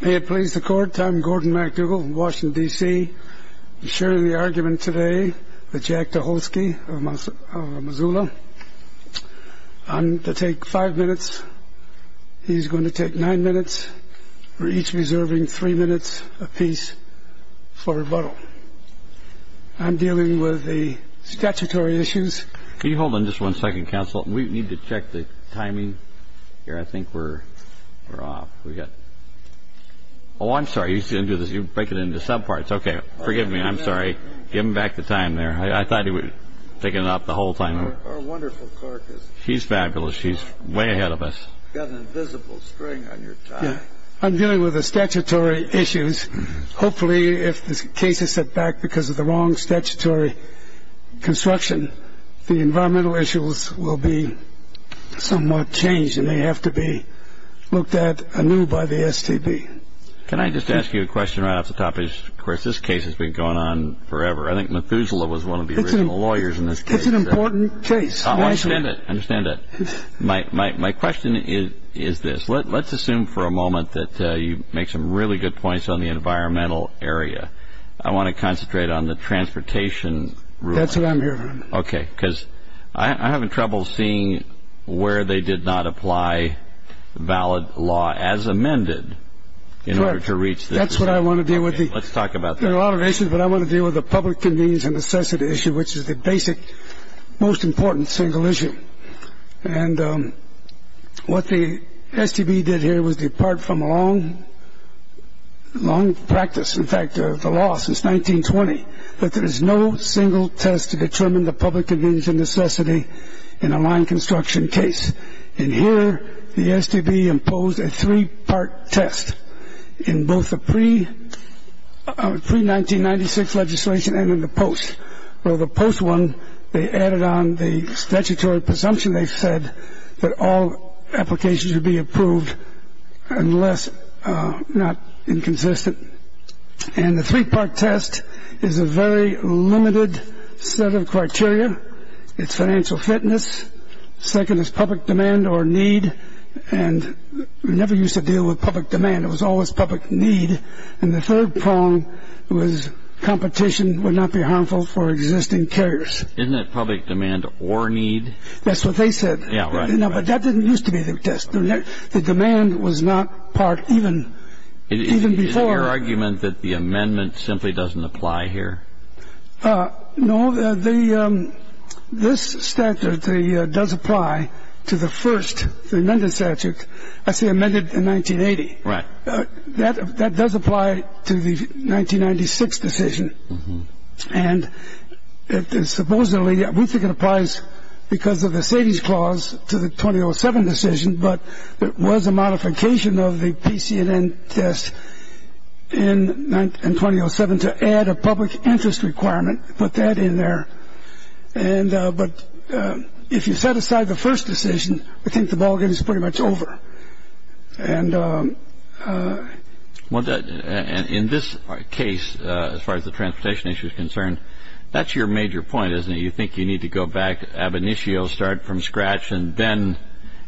May it please the Court, I'm Gordon MacDougall from Washington, D.C. I'm sharing the argument today with Jack Tucholsky of Missoula. And to take five minutes, he's going to take nine minutes. We're each reserving three minutes apiece for rebuttal. I'm dealing with the statutory issues. Can you hold on just one second, counsel? We need to check the timing here. I think we're off. Oh, I'm sorry. You break it into subparts. Okay. Forgive me. I'm sorry. Give him back the time there. I thought he was taking it up the whole time. Our wonderful clerk. She's fabulous. She's way ahead of us. You've got an invisible string on your tie. I'm dealing with the statutory issues. Hopefully, if this case is set back because of the wrong statutory construction, the environmental issues will be somewhat changed and they have to be looked at anew by the STB. Can I just ask you a question right off the top? Of course, this case has been going on forever. I think Methuselah was one of the original lawyers in this case. It's an important case. I understand that. My question is this. Let's assume for a moment that you make some really good points on the environmental area. I want to concentrate on the transportation ruling. That's what I'm hearing. Okay, because I'm having trouble seeing where they did not apply valid law as amended in order to reach this. That's what I want to deal with. Let's talk about that. There are a lot of issues, but I want to deal with the public convenience and necessity issue, which is the basic, most important single issue. And what the STB did here was depart from a long practice, in fact, the law since 1920, that there is no single test to determine the public convenience and necessity in a line construction case. And here the STB imposed a three-part test in both the pre-1996 legislation and in the post. Well, the post one, they added on the statutory presumption, they said, that all applications would be approved unless not inconsistent. And the three-part test is a very limited set of criteria. It's financial fitness. Second is public demand or need. And we never used to deal with public demand. It was always public need. And the third prong was competition would not be harmful for existing carriers. Isn't that public demand or need? That's what they said. Yeah, right. But that didn't used to be the test. The demand was not part even before. Is it your argument that the amendment simply doesn't apply here? No. This statute does apply to the first, the amended statute. That's the amended in 1980. Right. That does apply to the 1996 decision. And supposedly, we think it applies because of the savings clause to the 2007 decision, but it was a modification of the PCNN test in 2007 to add a public interest requirement, put that in there. And but if you set aside the first decision, I think the ballgame is pretty much over. And in this case, as far as the transportation issue is concerned, that's your major point, isn't it? You think you need to go back ab initio, start from scratch, and then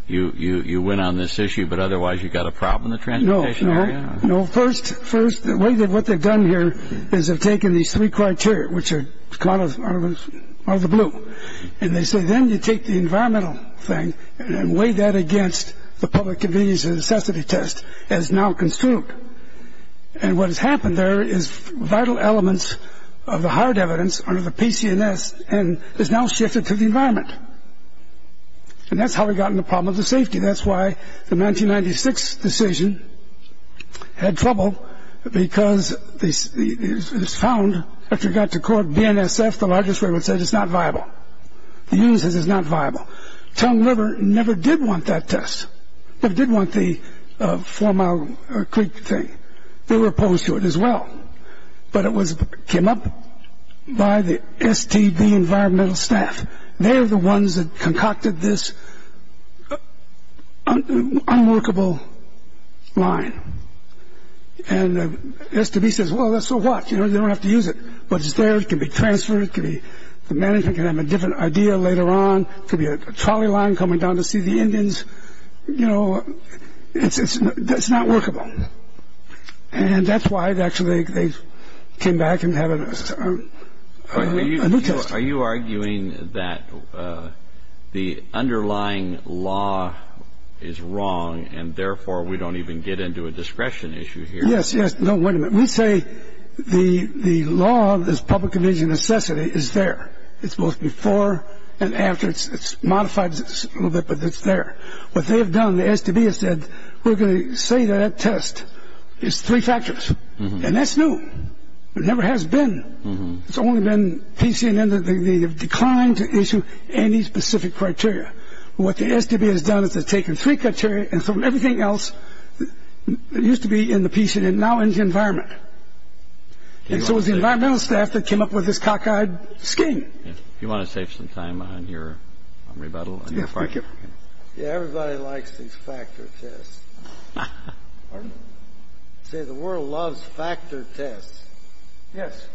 you win on this issue, but otherwise you've got a problem in the transportation area. No. First, what they've done here is they've taken these three criteria, which are caught out of the blue. And they say then you take the environmental thing and weigh that against the public convenience and necessity test as now construed. And what has happened there is vital elements of the hard evidence under the PCNS and is now shifted to the environment. And that's how we got in the problem of the safety. That's why the 1996 decision had trouble because it was found after it got to court, BNSF, the largest firm, said it's not viable. They used it as it's not viable. Tongue River never did want that test. They did want the four-mile creek thing. They were opposed to it as well. But it came up by the STB environmental staff. They're the ones that concocted this unworkable line. And STB says, well, that's so what? You don't have to use it. But it's there. It can be transferred. The management can have a different idea later on. It could be a trolley line coming down to see the Indians. You know, it's not workable. And that's why, actually, they came back and have a new test. Are you arguing that the underlying law is wrong and therefore we don't even get into a discretion issue here? Yes, yes. No, wait a minute. We say the law of this public convenience and necessity is there. It's both before and after. It's modified a little bit, but it's there. What they have done, the STB has said, we're going to say that test is three factors. And that's new. It never has been. It's only been PCNN that they have declined to issue any specific criteria. What the STB has done is they've taken three criteria and thrown everything else that used to be in the PCNN now into the environment. And so it was the environmental staff that came up with this cockeyed scheme. Do you want to save some time on your rebuttal? Yeah, everybody likes these factor tests. Pardon? Say the world loves factor tests. Yes.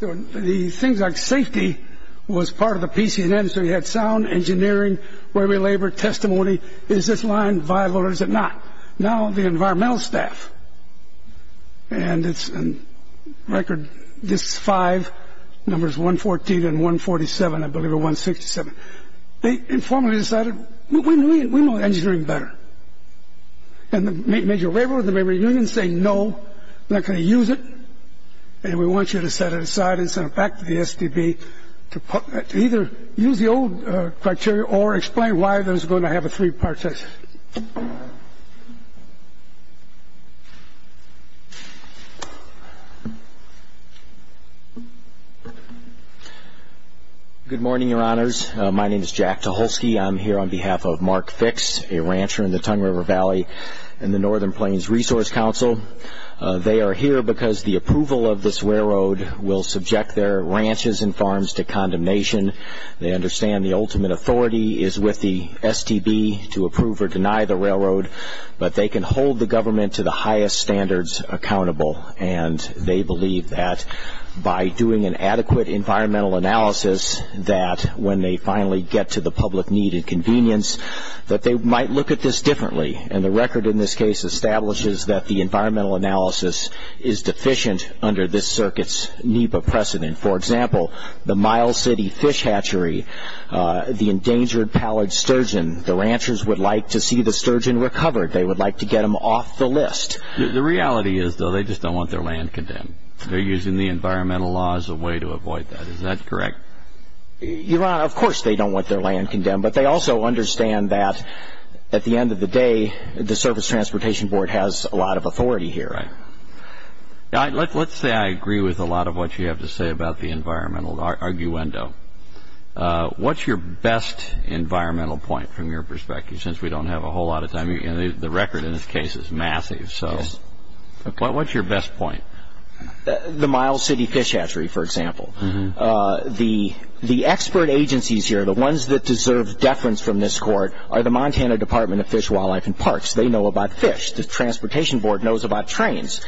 The things like safety was part of the PCNN, so you had sound, engineering, weary labor, testimony. Is this line viable or is it not? Now the environmental staff, and it's a record, this is five, numbers 114 and 147, I believe it was 167. They informally decided, we know engineering better. And the major labor unions say, no, we're not going to use it, and we want you to set it aside and send it back to the STB to either use the old criteria or explain why there's going to have a three-part test. Good morning, Your Honors. My name is Jack Tucholsky. I'm here on behalf of Mark Fix, a rancher in the Tongue River Valley in the Northern Plains Resource Council. They are here because the approval of this railroad will subject their ranches and farms to condemnation. They understand the ultimate authority is with the STB to approve or deny the railroad, but they can hold the government to the highest standards accountable. And they believe that by doing an adequate environmental analysis, that when they finally get to the public need and convenience, that they might look at this differently. And the record in this case establishes that the environmental analysis is deficient under this circuit's NEPA precedent. For example, the Mile City fish hatchery, the endangered pallid sturgeon, the ranchers would like to see the sturgeon recovered. They would like to get them off the list. The reality is, though, they just don't want their land condemned. They're using the environmental law as a way to avoid that. Is that correct? Your Honor, of course they don't want their land condemned, but they also understand that at the end of the day, the Service Transportation Board has a lot of authority here. Right. Let's say I agree with a lot of what you have to say about the environmental arguendo. What's your best environmental point, from your perspective, since we don't have a whole lot of time? The record in this case is massive, so what's your best point? The Mile City fish hatchery, for example. The expert agencies here, the ones that deserve deference from this Court, are the Montana Department of Fish, Wildlife, and Parks. They know about fish. The Transportation Board knows about trains.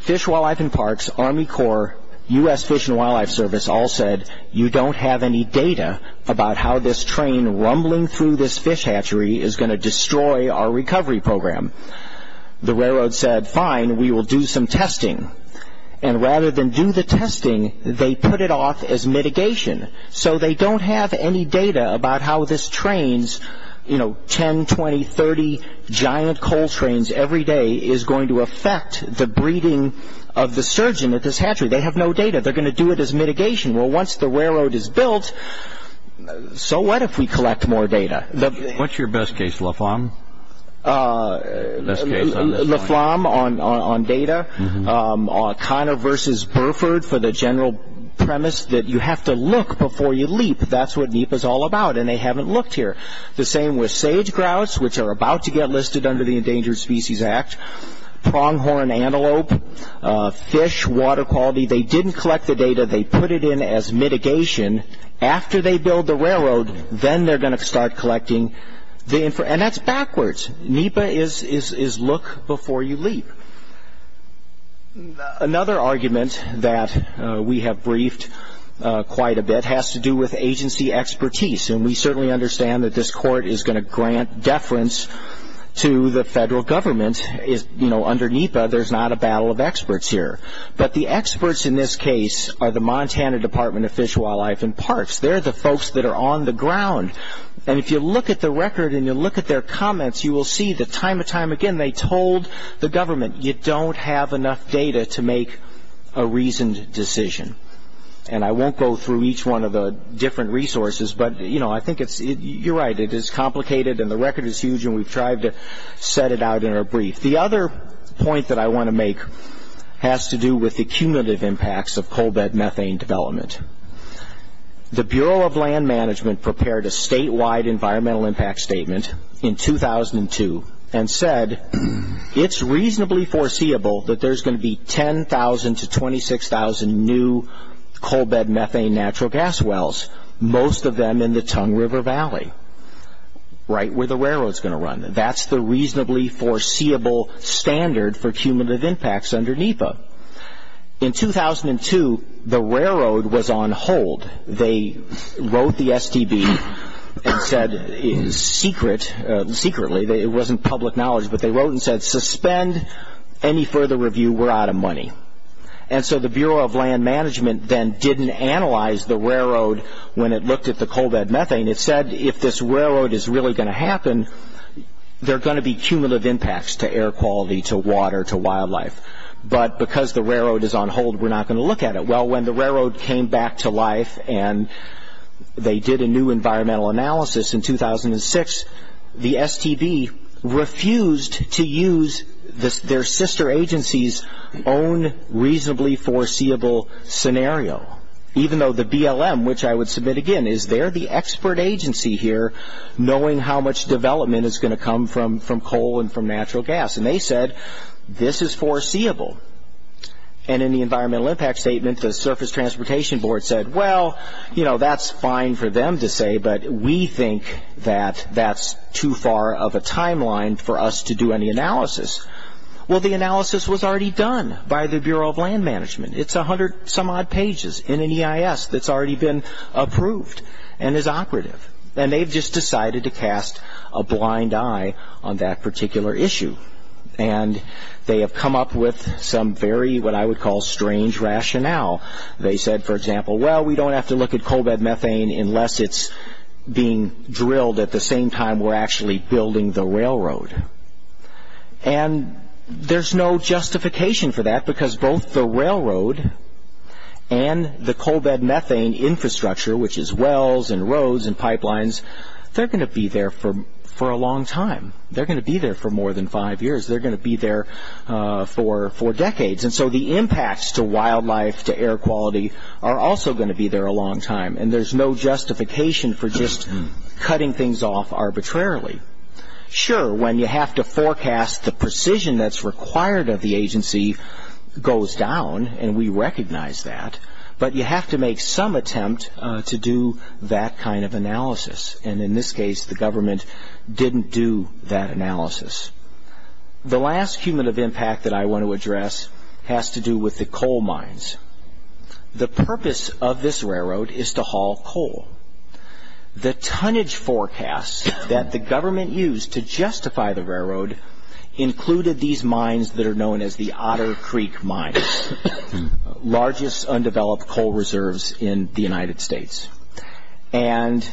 Fish, Wildlife, and Parks, Army Corps, U.S. Fish and Wildlife Service all said, you don't have any data about how this train rumbling through this fish hatchery is going to destroy our recovery program. The railroad said, fine, we will do some testing. Rather than do the testing, they put it off as mitigation, so they don't have any data about how this train, 10, 20, 30 giant coal trains every day, is going to affect the breeding of the sturgeon at this hatchery. They have no data. They're going to do it as mitigation. Well, once the railroad is built, so what if we collect more data? What's your best case, Laflam? Laflam on data. O'Connor versus Burford for the general premise that you have to look before you leap. That's what NEPA is all about, and they haven't looked here. The same with sage grouts, which are about to get listed under the Endangered Species Act, pronghorn antelope, fish, water quality. They didn't collect the data. They put it in as mitigation. After they build the railroad, then they're going to start collecting. And that's backwards. NEPA is look before you leap. Another argument that we have briefed quite a bit has to do with agency expertise, and we certainly understand that this court is going to grant deference to the federal government. Under NEPA, there's not a battle of experts here. But the experts in this case are the Montana Department of Fish, Wildlife, and Parks. They're the folks that are on the ground. And if you look at the record and you look at their comments, you will see that time and time again they told the government, you don't have enough data to make a reasoned decision. And I won't go through each one of the different resources, but, you know, I think you're right. It is complicated, and the record is huge, and we've tried to set it out in our brief. The other point that I want to make has to do with the cumulative impacts of coal bed methane development. The Bureau of Land Management prepared a statewide environmental impact statement in 2002 and said it's reasonably foreseeable that there's going to be 10,000 to 26,000 new coal bed methane natural gas wells, most of them in the Tongue River Valley, right where the railroad's going to run. That's the reasonably foreseeable standard for cumulative impacts under NEPA. In 2002, the railroad was on hold. They wrote the STB and said, secretly, it wasn't public knowledge, but they wrote and said suspend any further review, we're out of money. And so the Bureau of Land Management then didn't analyze the railroad when it looked at the coal bed methane. It said if this railroad is really going to happen, there are going to be cumulative impacts to air quality, to water, to wildlife. But because the railroad is on hold, we're not going to look at it. Well, when the railroad came back to life and they did a new environmental analysis in 2006, the STB refused to use their sister agency's own reasonably foreseeable scenario. Even though the BLM, which I would submit again, is they're the expert agency here, knowing how much development is going to come from coal and from natural gas. And they said, this is foreseeable. And in the environmental impact statement, the Surface Transportation Board said, well, that's fine for them to say, but we think that that's too far of a timeline for us to do any analysis. Well, the analysis was already done by the Bureau of Land Management. It's a hundred some odd pages in an EIS that's already been approved and is operative. And they've just decided to cast a blind eye on that particular issue. And they have come up with some very, what I would call, strange rationale. They said, for example, well, we don't have to look at coal bed methane unless it's being drilled at the same time we're actually building the railroad. And there's no justification for that because both the railroad and the coal bed methane infrastructure, which is wells and roads and pipelines, they're going to be there for a long time. They're going to be there for more than five years. They're going to be there for decades. And so the impacts to wildlife, to air quality are also going to be there a long time. And there's no justification for just cutting things off arbitrarily. Sure, when you have to forecast the precision that's required of the agency goes down, and we recognize that. But you have to make some attempt to do that kind of analysis. And in this case, the government didn't do that analysis. The last human of impact that I want to address has to do with the coal mines. The purpose of this railroad is to haul coal. The tonnage forecasts that the government used to justify the railroad included these mines that are known as the Otter Creek Mines, the largest undeveloped coal reserves in the United States. And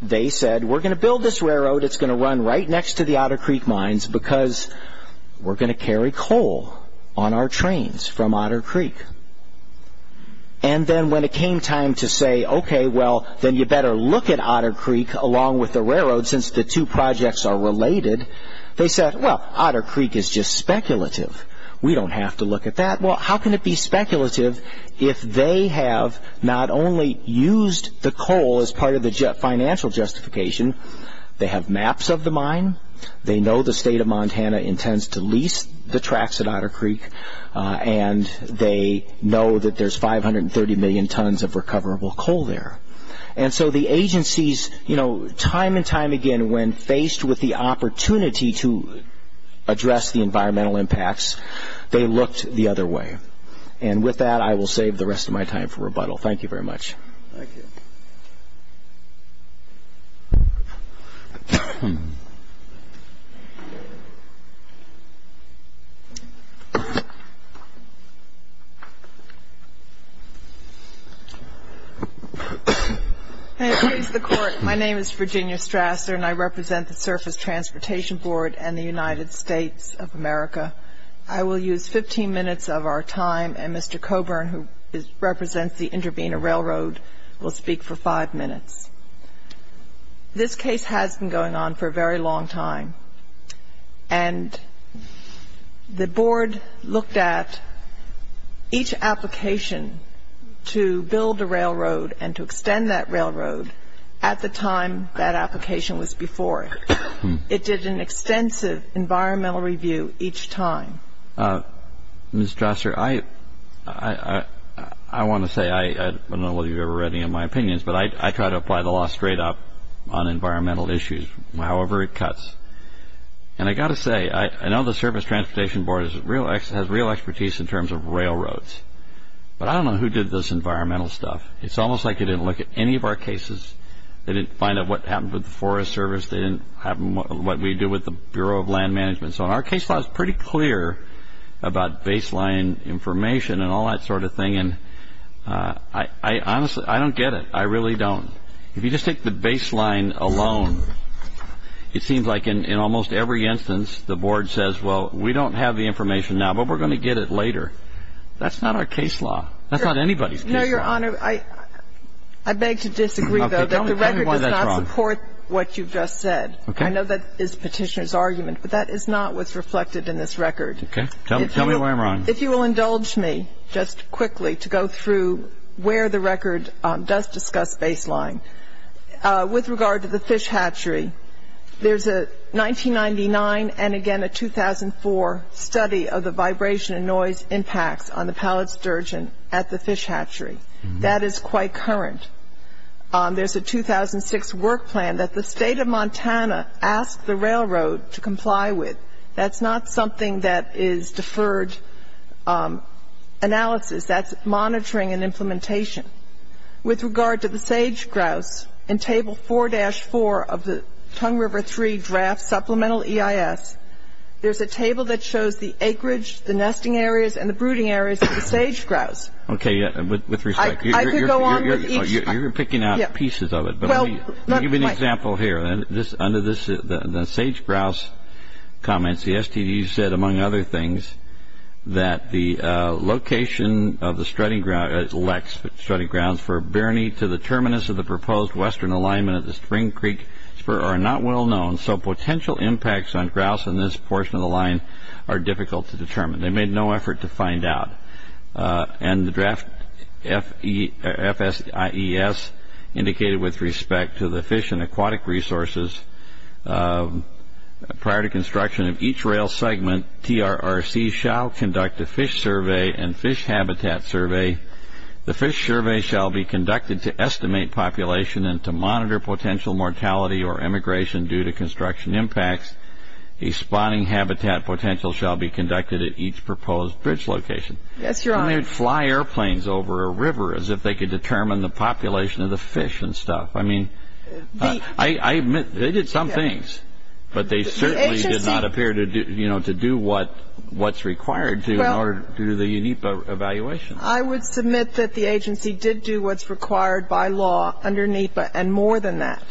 they said, we're going to build this railroad, it's going to run right next to the Otter Creek Mines because we're going to carry coal on our trains from Otter Creek. And then when it came time to say, okay, well, then you better look at Otter Creek along with the railroad since the two projects are related, they said, well, Otter Creek is just speculative. We don't have to look at that. Well, how can it be speculative if they have not only used the coal as part of the financial justification, they have maps of the mine, they know the state of Montana intends to lease the tracks at Otter Creek, and they know that there's 530 million tons of recoverable coal there. And so the agencies, time and time again, when faced with the opportunity to address the environmental impacts, they looked the other way. And with that, I will save the rest of my time for rebuttal. Thank you very much. Thank you. May it please the Court, my name is Virginia Strasser, and I represent the Surface Transportation Board and the United States of America. I will use 15 minutes of our time, and Mr. Coburn, who represents the Intervenor Railroad, will speak for five minutes. This case has been going on for a very long time, and the board looked at each application to build a railroad and to extend that railroad at the time that application was before it. It did an extensive environmental review each time. Ms. Strasser, I want to say, I don't know whether you've ever read any of my opinions, but I try to apply the law straight up on environmental issues, however it cuts. And I've got to say, I know the Surface Transportation Board has real expertise in terms of railroads, but I don't know who did this environmental stuff. It's almost like they didn't look at any of our cases. They didn't find out what happened with the Forest Service. They didn't have what we do with the Bureau of Land Management. So our case law is pretty clear about baseline information and all that sort of thing. And I honestly, I don't get it. I really don't. If you just take the baseline alone, it seems like in almost every instance the board says, well, we don't have the information now, but we're going to get it later. That's not our case law. That's not anybody's case law. No, Your Honor. I beg to disagree, though, that the record does not support what you've just said. I know that is Petitioner's argument, but that is not what's reflected in this record. Okay. Tell me where I'm wrong. If you will indulge me just quickly to go through where the record does discuss baseline. With regard to the fish hatchery, there's a 1999 and, again, a 2004 study of the vibration and noise impacts on the pallet sturgeon at the fish hatchery. That is quite current. There's a 2006 work plan that the State of Montana asked the railroad to comply with. That's not something that is deferred analysis. That's monitoring and implementation. With regard to the sage grouse, in Table 4-4 of the Tongue River III Draft Supplemental EIS, there's a table that shows the acreage, the nesting areas, and the brooding areas of the sage grouse. Okay. With respect. I could go on with each. You're picking out pieces of it, but let me give you an example here. Under the sage grouse comments, the STD said, among other things, that the location of the strutting grounds for Birney to the terminus of the proposed western alignment of the Spring Creek Spur are not well known, so potential impacts on grouse in this portion of the line are difficult to determine. They made no effort to find out. And the draft FSIES indicated with respect to the fish and aquatic resources, prior to construction of each rail segment, TRRC shall conduct a fish survey and fish habitat survey. The fish survey shall be conducted to estimate population and to monitor potential mortality or emigration due to construction impacts. A spawning habitat potential shall be conducted at each proposed bridge location. Yes, Your Honor. They may fly airplanes over a river as if they could determine the population of the fish and stuff. I mean, I admit they did some things, but they certainly did not appear to do what's required to do the NEPA evaluation. I would submit that the agency did do what's required by law under NEPA, and more than that.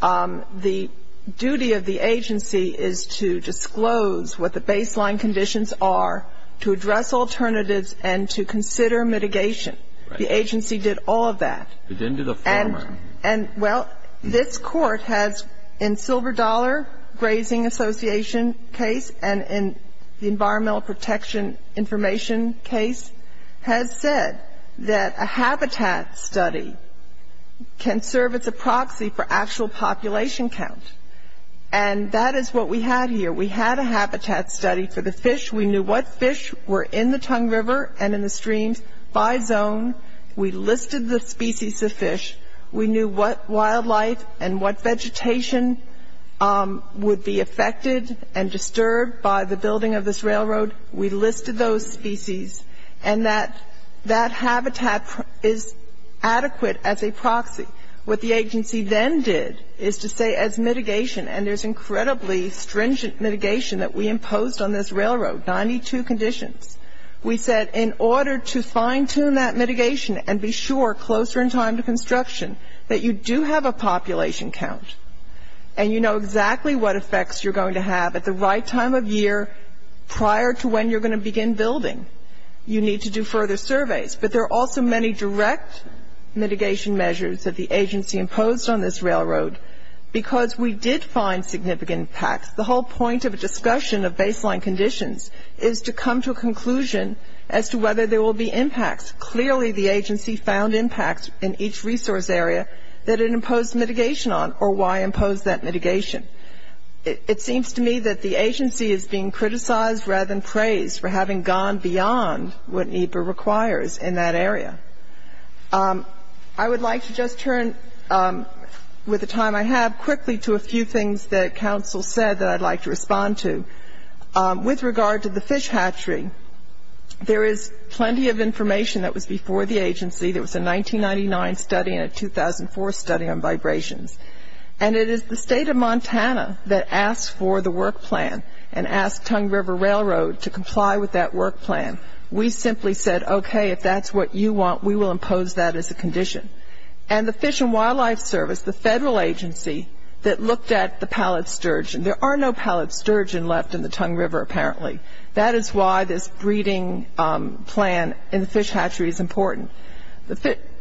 The duty of the agency is to disclose what the baseline conditions are, to address alternatives, and to consider mitigation. The agency did all of that. They didn't do the foreman. And, well, this Court has, in Silver Dollar Grazing Association case and in the Environmental Protection Information case, has said that a habitat study can serve as a proxy for actual population count. And that is what we had here. We had a habitat study for the fish. We knew what fish were in the Tongue River and in the streams by zone. We listed the species of fish. We knew what wildlife and what vegetation would be affected and disturbed by the building of this railroad. We listed those species. And that habitat is adequate as a proxy. What the agency then did is to say as mitigation, and there's incredibly stringent mitigation that we imposed on this railroad, 92 conditions. We said in order to fine-tune that mitigation and be sure closer in time to construction, that you do have a population count, and you know exactly what effects you're going to have at the right time of year prior to when you're going to begin building, you need to do further surveys. But there are also many direct mitigation measures that the agency imposed on this railroad because we did find significant impacts. The whole point of a discussion of baseline conditions is to come to a conclusion as to whether there will be impacts. Clearly the agency found impacts in each resource area that it imposed mitigation on or why impose that mitigation. It seems to me that the agency is being criticized rather than praised for having gone beyond what NEPA requires in that area. I would like to just turn, with the time I have, quickly to a few things that counsel said that I'd like to respond to. With regard to the fish hatchery, there is plenty of information that was before the agency. There was a 1999 study and a 2004 study on vibrations. And it is the state of Montana that asked for the work plan and asked Tongue River Railroad to comply with that work plan. We simply said, okay, if that's what you want, we will impose that as a condition. And the Fish and Wildlife Service, the federal agency that looked at the pallet sturgeon, there are no pallet sturgeon left in the Tongue River apparently. That is why this breeding plan in the fish hatchery is important.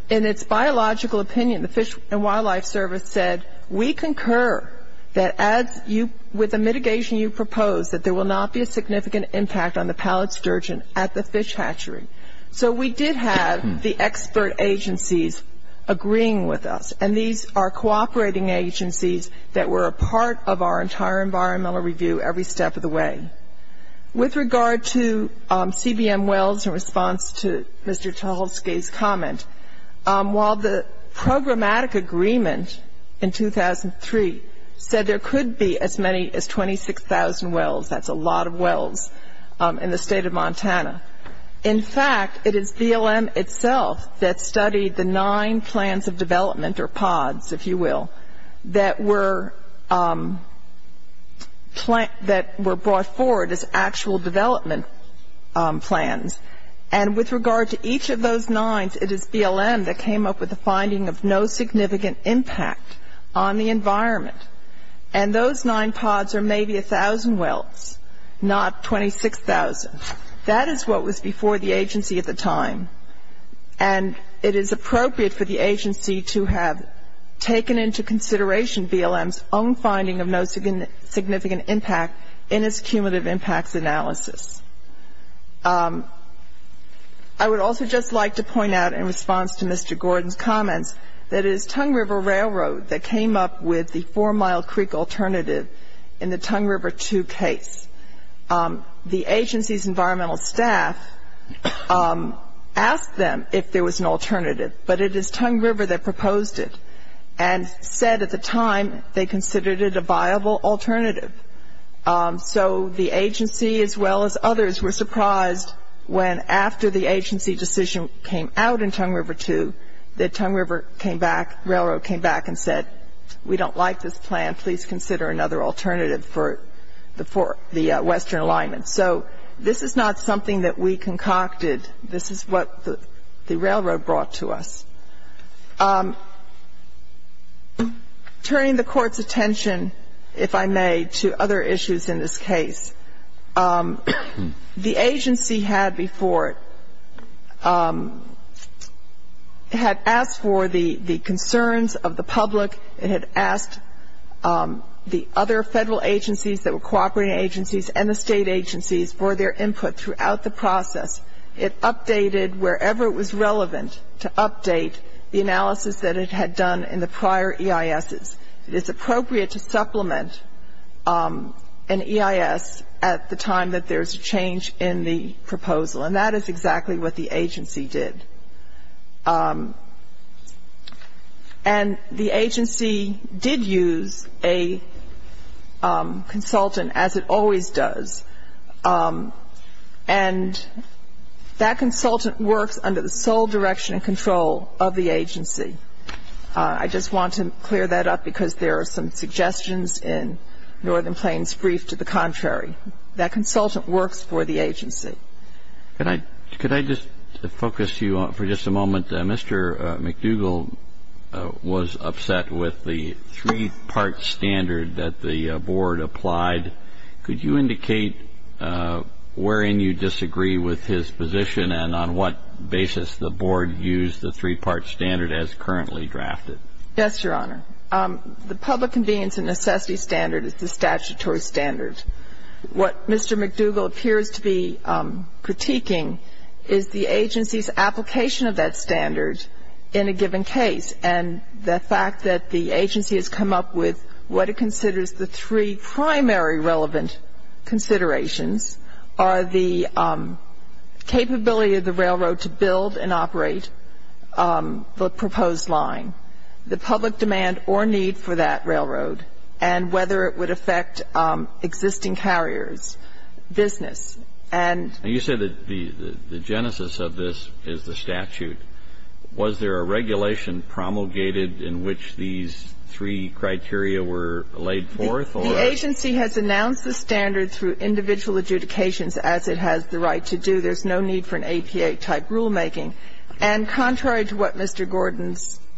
In its biological opinion, the Fish and Wildlife Service said, we concur that with the mitigation you propose that there will not be a significant impact on the pallet sturgeon at the fish hatchery. So we did have the expert agencies agreeing with us. And these are cooperating agencies that were a part of our entire environmental review every step of the way. With regard to CBM wells, in response to Mr. Tucholsky's comment, while the programmatic agreement in 2003 said there could be as many as 26,000 wells, that's a lot of wells in the state of Montana, in fact, it is BLM itself that studied the nine plans of development, or pods, if you will, that were brought forward as actual development plans. And with regard to each of those nines, it is BLM that came up with a finding of no significant impact on the environment. And those nine pods are maybe 1,000 wells, not 26,000. That is what was before the agency at the time. And it is appropriate for the agency to have taken into consideration BLM's own finding of no significant impact in its cumulative impacts analysis. I would also just like to point out in response to Mr. Gordon's comments that it is Tongue River Railroad that came up with the four-mile creek alternative in the Tongue River II case. The agency's environmental staff asked them if there was an alternative, but it is Tongue River that proposed it and said at the time they considered it a viable alternative. So the agency as well as others were surprised when after the agency decision came out in Tongue River II that Tongue River came back, railroad came back and said, we don't like this plan, please consider another alternative for the western alignment. So this is not something that we concocted. This is what the railroad brought to us. Turning the Court's attention, if I may, to other issues in this case, the agency had before it had asked for the concerns of the public. It had asked the other federal agencies that were cooperating agencies and the state agencies for their input throughout the process. It updated wherever it was relevant to update the analysis that it had done in the prior EISs. It is appropriate to supplement an EIS at the time that there is a change in the proposal, and that is exactly what the agency did. And the agency did use a consultant, as it always does, and that consultant works under the sole direction and control of the agency. I just want to clear that up because there are some suggestions in Northern Plains Brief to the contrary. That consultant works for the agency. Could I just focus you for just a moment? Mr. McDougall was upset with the three-part standard that the Board applied. Could you indicate wherein you disagree with his position and on what basis the Board used the three-part standard as currently drafted? Yes, Your Honor. The public convenience and necessity standard is the statutory standard. What Mr. McDougall appears to be critiquing is the agency's application of that standard in a given case, and the fact that the agency has come up with what it considers the three primary relevant considerations are the capability of the railroad to build and operate the proposed line, the public demand or need for that railroad, and whether it would affect existing carriers, business. And you said that the genesis of this is the statute. Was there a regulation promulgated in which these three criteria were laid forth? The agency has announced the standard through individual adjudications as it has the right to do. There's no need for an APA-type rulemaking. And contrary to what Mr. Gordon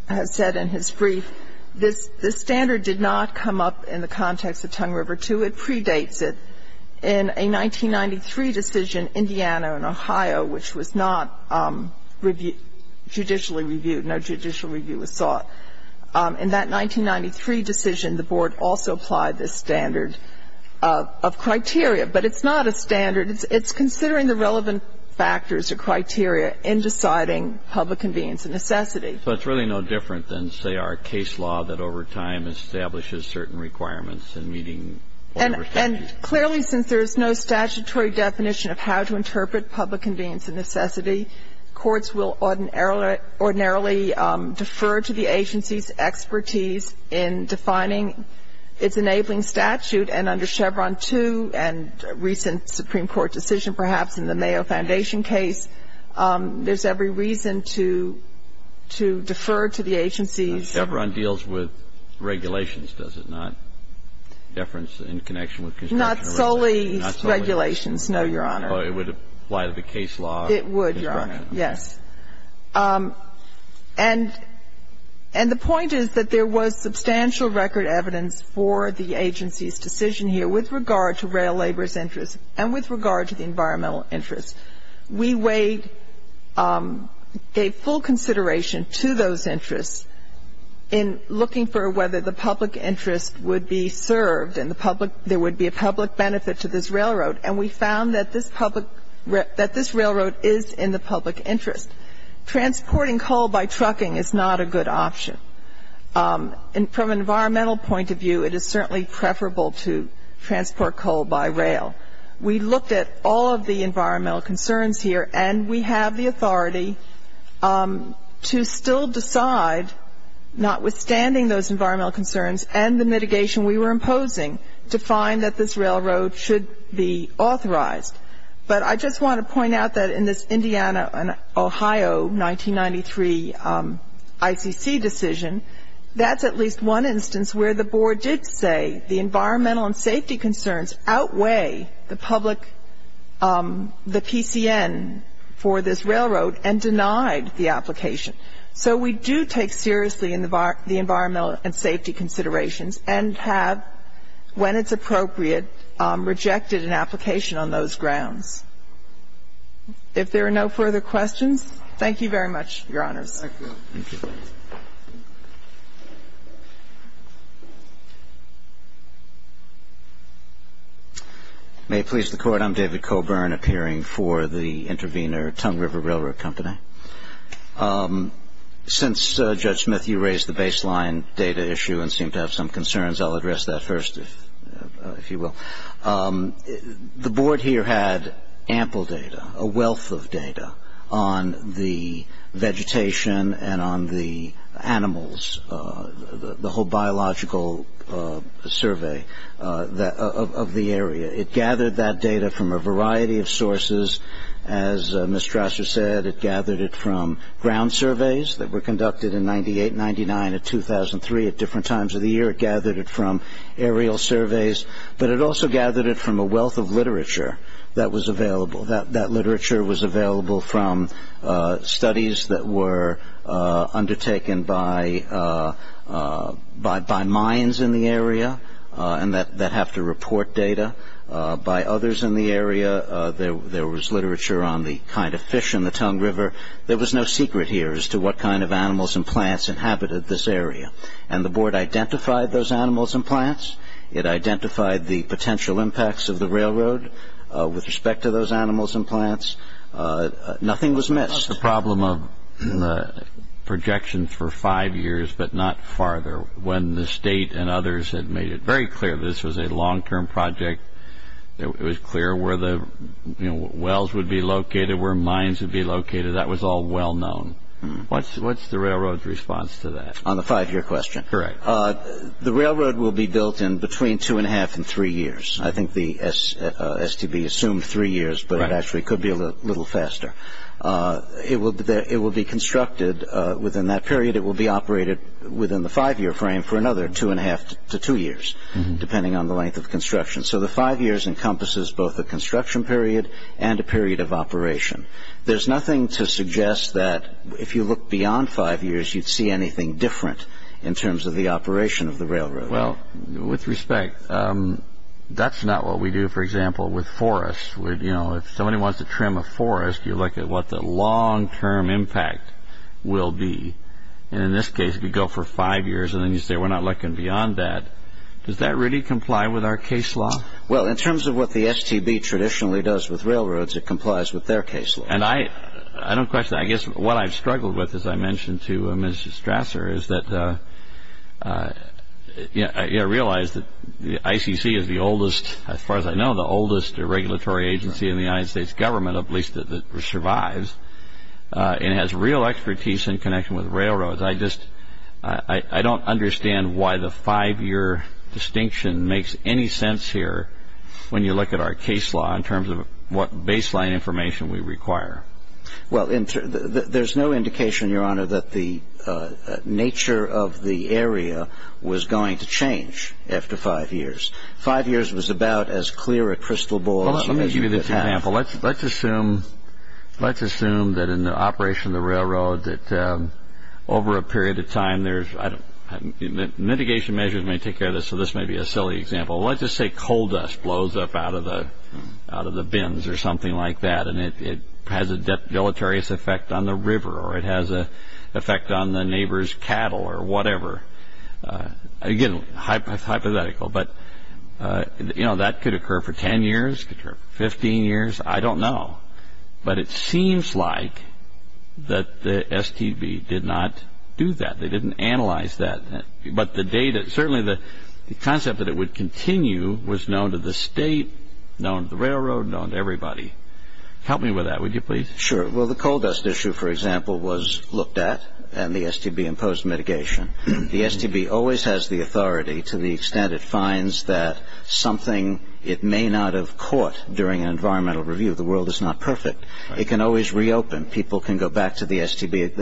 has said in his brief, this standard did not come up in the context of Tongue River II. It predates it. In a 1993 decision, Indiana and Ohio, which was not judicially reviewed, no judicial review was sought, in that 1993 decision, the Board also applied this standard of criteria. But it's not a standard. It's considering the relevant factors or criteria in deciding public convenience and necessity. So it's really no different than, say, our case law that over time establishes certain requirements in meeting Tongue River II. And clearly, since there is no statutory definition of how to interpret public convenience and necessity, courts will ordinarily defer to the agency's expertise in defining its enabling statute, and under Chevron II and recent Supreme Court decision, perhaps in the Mayo Foundation case, there's every reason to defer to the agency's Chevron deals with regulations, does it not? Deference in connection with construction. Not solely regulations, no, Your Honor. But it would apply to the case law. It would, Your Honor, yes. And the point is that there was substantial record evidence for the agency's decision here with regard to rail labor's interest and with regard to the environmental interest. We weighed, gave full consideration to those interests in looking for whether the public interest would be served and there would be a public benefit to this railroad. And we found that this public, that this railroad is in the public interest. Transporting coal by trucking is not a good option. And from an environmental point of view, it is certainly preferable to transport coal by rail. We looked at all of the environmental concerns here, and we have the authority to still decide, notwithstanding those environmental concerns and the mitigation we were imposing, to find that this railroad should be authorized. But I just want to point out that in this Indiana and Ohio 1993 ICC decision, that's at least one instance where the board did say the environmental and safety concerns outweigh the public, the PCN for this railroad, and denied the application. So we do take seriously the environmental and safety considerations and have, when it's appropriate, rejected an application on those grounds. If there are no further questions, thank you very much, Your Honors. Thank you. May it please the Court. I'm David Coburn, appearing for the intervener, Tongue River Railroad Company. Since, Judge Smith, you raised the baseline data issue and seemed to have some concerns, I'll address that first, if you will. The board here had ample data, a wealth of data, on the vegetation and on the animals, the whole biological survey of the area. As Ms. Strasser said, it gathered it from ground surveys that were conducted in 1998, 1999, and 2003 at different times of the year. It gathered it from aerial surveys, but it also gathered it from a wealth of literature that was available. That literature was available from studies that were undertaken by mines in the area and that have to report data by others in the area. There was literature on the kind of fish in the Tongue River. There was no secret here as to what kind of animals and plants inhabited this area, and the board identified those animals and plants. It identified the potential impacts of the railroad with respect to those animals and plants. Nothing was missed. That's the problem of projections for five years but not farther. When the State and others had made it very clear this was a long-term project, it was clear where the wells would be located, where mines would be located. That was all well known. What's the railroad's response to that? On the five-year question? Correct. The railroad will be built in between two and a half and three years. I think the STB assumed three years, but it actually could be a little faster. It will be constructed within that period. It will be operated within the five-year frame for another two and a half to two years, depending on the length of construction. So the five years encompasses both a construction period and a period of operation. There's nothing to suggest that if you look beyond five years, you'd see anything different in terms of the operation of the railroad. With respect, that's not what we do, for example, with forests. If somebody wants to trim a forest, you look at what the long-term impact will be. In this case, if you go for five years and then you say we're not looking beyond that, does that really comply with our case law? Well, in terms of what the STB traditionally does with railroads, it complies with their case law. I don't question that. I guess what I've struggled with, as I mentioned to Mr. Strasser, is that I realize that the ICC is the oldest, as far as I know, the oldest regulatory agency in the United States government, at least that survives, and has real expertise in connection with railroads. I don't understand why the five-year distinction makes any sense here when you look at our case law in terms of what baseline information we require. Well, there's no indication, Your Honor, that the nature of the area was going to change after five years. Five years was about as clear a crystal ball as you could have. Well, let me give you this example. Let's assume that in the operation of the railroad that over a period of time, mitigation measures may take care of this, so this may be a silly example. Let's just say coal dust blows up out of the bins or something like that and it has a deleterious effect on the river or it has an effect on the neighbor's cattle or whatever. Again, it's hypothetical, but that could occur for 10 years, could occur for 15 years. I don't know, but it seems like that the STB did not do that. They didn't analyze that. But certainly the concept that it would continue was known to the state, known to the railroad, known to everybody. Help me with that, would you please? Sure. Well, the coal dust issue, for example, was looked at and the STB imposed mitigation. The STB always has the authority to the extent it finds that something, it may not have caught during an environmental review. The world is not perfect. It can always reopen. People can go back to the STB.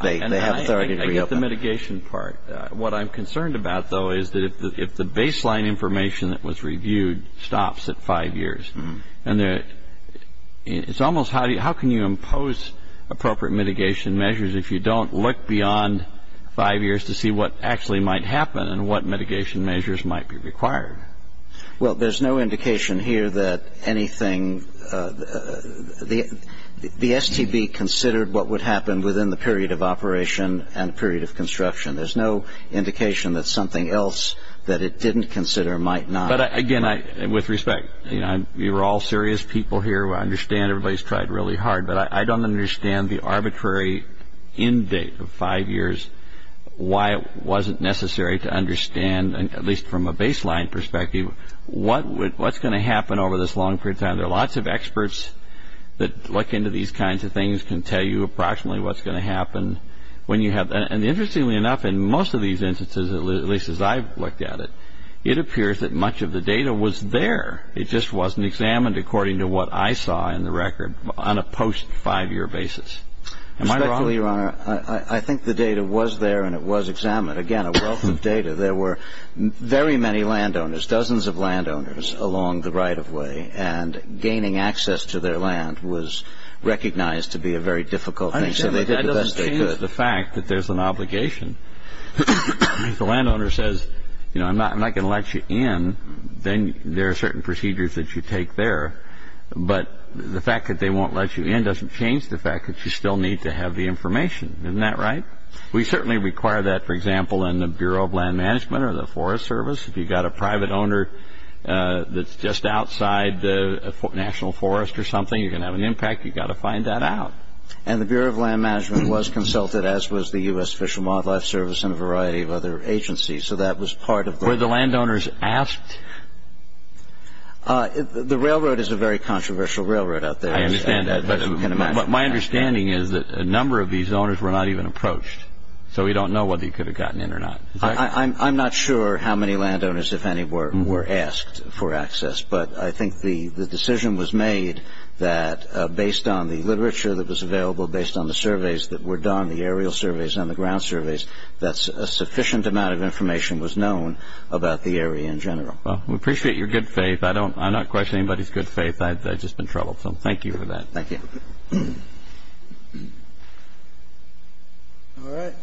They have authority to reopen. I get the mitigation part. What I'm concerned about, though, is that if the baseline information that was reviewed stops at five years, it's almost how can you impose appropriate mitigation measures if you don't look beyond five years to see what actually might happen and what mitigation measures might be required? Well, there's no indication here that anything the STB considered what would happen within the period of operation and the period of construction. There's no indication that something else that it didn't consider might not. But, again, with respect, you're all serious people here. I understand everybody's tried really hard. But I don't understand the arbitrary end date of five years, why it wasn't necessary to understand, at least from a baseline perspective, what's going to happen over this long period of time. There are lots of experts that look into these kinds of things, can tell you approximately what's going to happen when you have that. And interestingly enough, in most of these instances, at least as I've looked at it, it appears that much of the data was there. It just wasn't examined according to what I saw in the record on a post-five-year basis. Am I wrong? Respectfully, Your Honor, I think the data was there and it was examined. Again, a wealth of data. There were very many landowners, dozens of landowners along the right-of-way, and gaining access to their land was recognized to be a very difficult thing, so they did the best they could. I understand, but that doesn't change the fact that there's an obligation. If the landowner says, you know, I'm not going to let you in, then there are certain procedures that you take there, but the fact that they won't let you in doesn't change the fact that you still need to have the information. Isn't that right? We certainly require that, for example, in the Bureau of Land Management or the Forest Service. If you've got a private owner that's just outside the national forest or something, you're going to have an impact. You've got to find that out. And the Bureau of Land Management was consulted, as was the U.S. Fish and Wildlife Service, and a variety of other agencies, so that was part of the process. Were the landowners asked? The railroad is a very controversial railroad out there. I understand that, but my understanding is that a number of these owners were not even approached, so we don't know whether you could have gotten in or not. I'm not sure how many landowners, if any, were asked for access, but I think the decision was made that based on the literature that was available, based on the surveys that were done, the aerial surveys and the ground surveys, that a sufficient amount of information was known about the area in general. Well, we appreciate your good faith. I'm not questioning anybody's good faith. I've just been troubled, so thank you for that. Thank you. All right.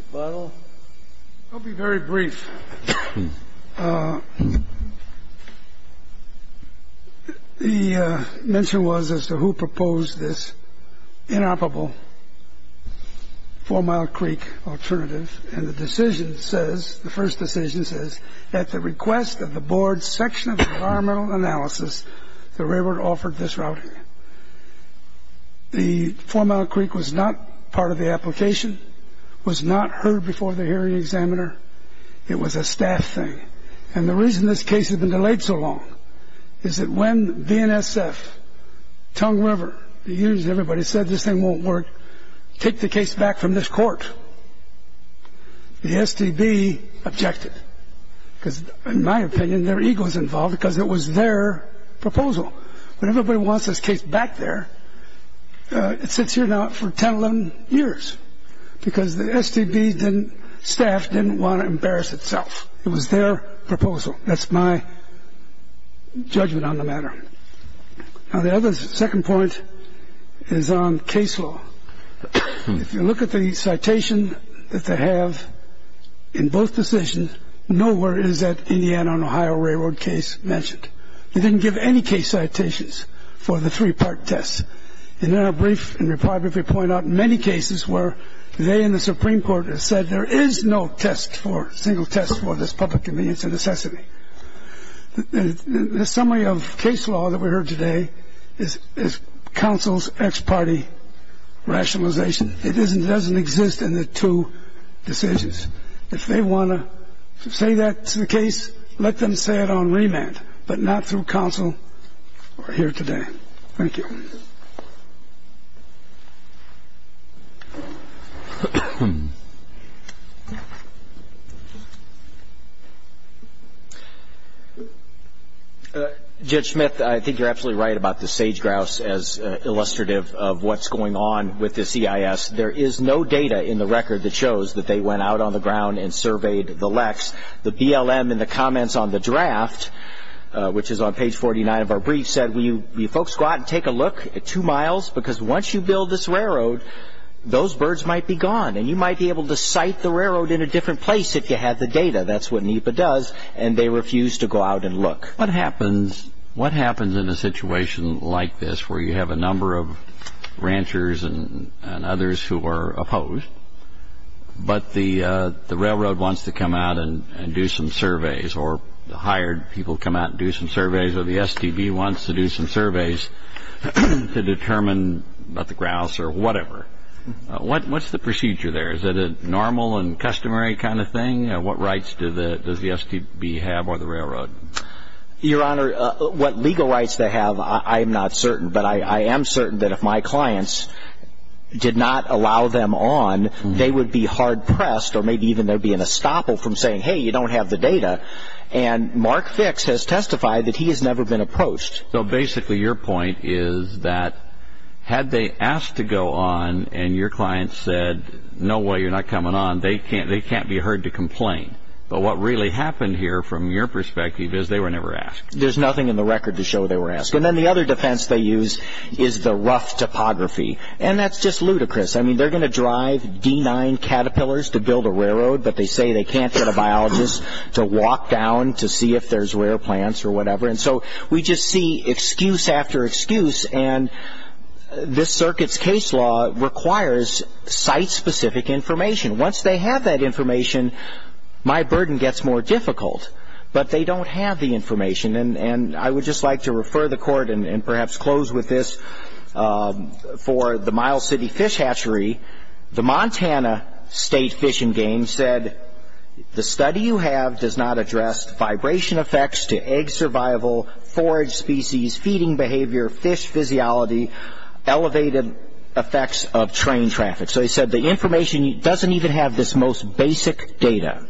Mr. Butler? I'll be very brief. The mention was as to who proposed this inoperable Four Mile Creek alternative, and the decision says, the first decision says, at the request of the board's section of environmental analysis, the railroad offered this route. The Four Mile Creek was not part of the application, was not heard before the hearing examiner. It was a staff thing, and the reason this case had been delayed so long is that when VNSF, Tongue River, the unions, everybody said this thing won't work, take the case back from this court, the STB objected because, in my opinion, their ego was involved because it was their proposal. When everybody wants this case back there, it sits here now for 10, 11 years because the STB staff didn't want to embarrass itself. It was their proposal. That's my judgment on the matter. Now, the other second point is on case law. If you look at the citation that they have in both decisions, nowhere is that Indiana and Ohio Railroad case mentioned. They didn't give any case citations for the three-part test. In their brief, in their part, they point out many cases where they and the Supreme Court have said there is no test for, single test for this public convenience and necessity. The summary of case law that we heard today is counsel's ex parte rationalization. It doesn't exist in the two decisions. If they want to say that to the case, let them say it on remand, but not through counsel or here today. Thank you. Judge Smith, I think you're absolutely right about the sage grouse as illustrative of what's going on with the CIS. There is no data in the record that shows that they went out on the ground and surveyed the LECs. The BLM in the comments on the draft, which is on page 49 of our brief, said, will you folks go out and take a look at two miles? Because once you build this railroad, those birds might be gone, and you might be able to site the railroad in a different place if you had the data. That's what NEPA does, and they refuse to go out and look. What happens in a situation like this where you have a number of ranchers and others who are opposed, but the railroad wants to come out and do some surveys, or the hired people come out and do some surveys, or the STB wants to do some surveys to determine about the grouse or whatever? What's the procedure there? Is it a normal and customary kind of thing? What rights does the STB have or the railroad? Your Honor, what legal rights they have I am not certain, but I am certain that if my clients did not allow them on, they would be hard-pressed or maybe even there would be an estoppel from saying, hey, you don't have the data. And Mark Fix has testified that he has never been approached. So basically your point is that had they asked to go on and your client said, no way, you're not coming on, they can't be heard to complain. But what really happened here from your perspective is they were never asked. There's nothing in the record to show they were asked. And then the other defense they use is the rough topography, and that's just ludicrous. I mean, they're going to drive D9 Caterpillars to build a railroad, but they say they can't get a biologist to walk down to see if there's rare plants or whatever. And so we just see excuse after excuse, and this circuit's case law requires site-specific information. Once they have that information, my burden gets more difficult. But they don't have the information. And I would just like to refer the Court and perhaps close with this. For the Miles City Fish Hatchery, the Montana State Fish and Game said, the study you have does not address vibration effects to egg survival, forage species, feeding behavior, fish physiology, elevated effects of train traffic. So they said the information doesn't even have this most basic data.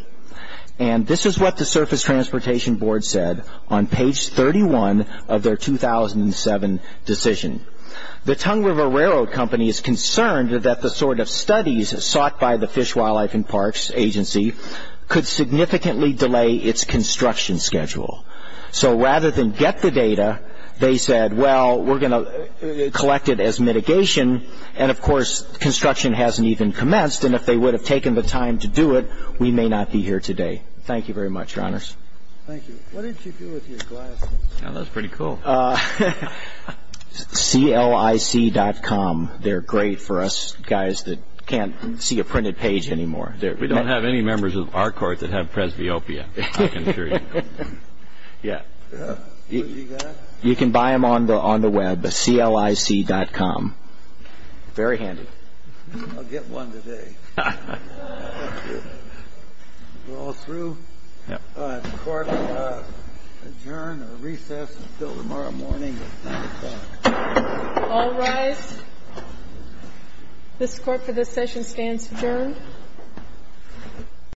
And this is what the Surface Transportation Board said on page 31 of their 2007 decision. The Tongue River Railroad Company is concerned that the sort of studies sought by the Fish, Wildlife, and Parks Agency could significantly delay its construction schedule. So rather than get the data, they said, well, we're going to collect it as mitigation. And, of course, construction hasn't even commenced, and if they would have taken the time to do it, we may not be here today. Thank you very much, Your Honors. Thank you. What did you do with your glasses? That was pretty cool. CLIC.com. They're great for us guys that can't see a printed page anymore. We don't have any members of our court that have presbyopia, I can assure you. Yeah. You can buy them on the web, CLIC.com. Very handy. I'll get one today. We're all through? Yep. The court will adjourn or recess until tomorrow morning at 9 o'clock. All rise. This court for this session stands adjourned.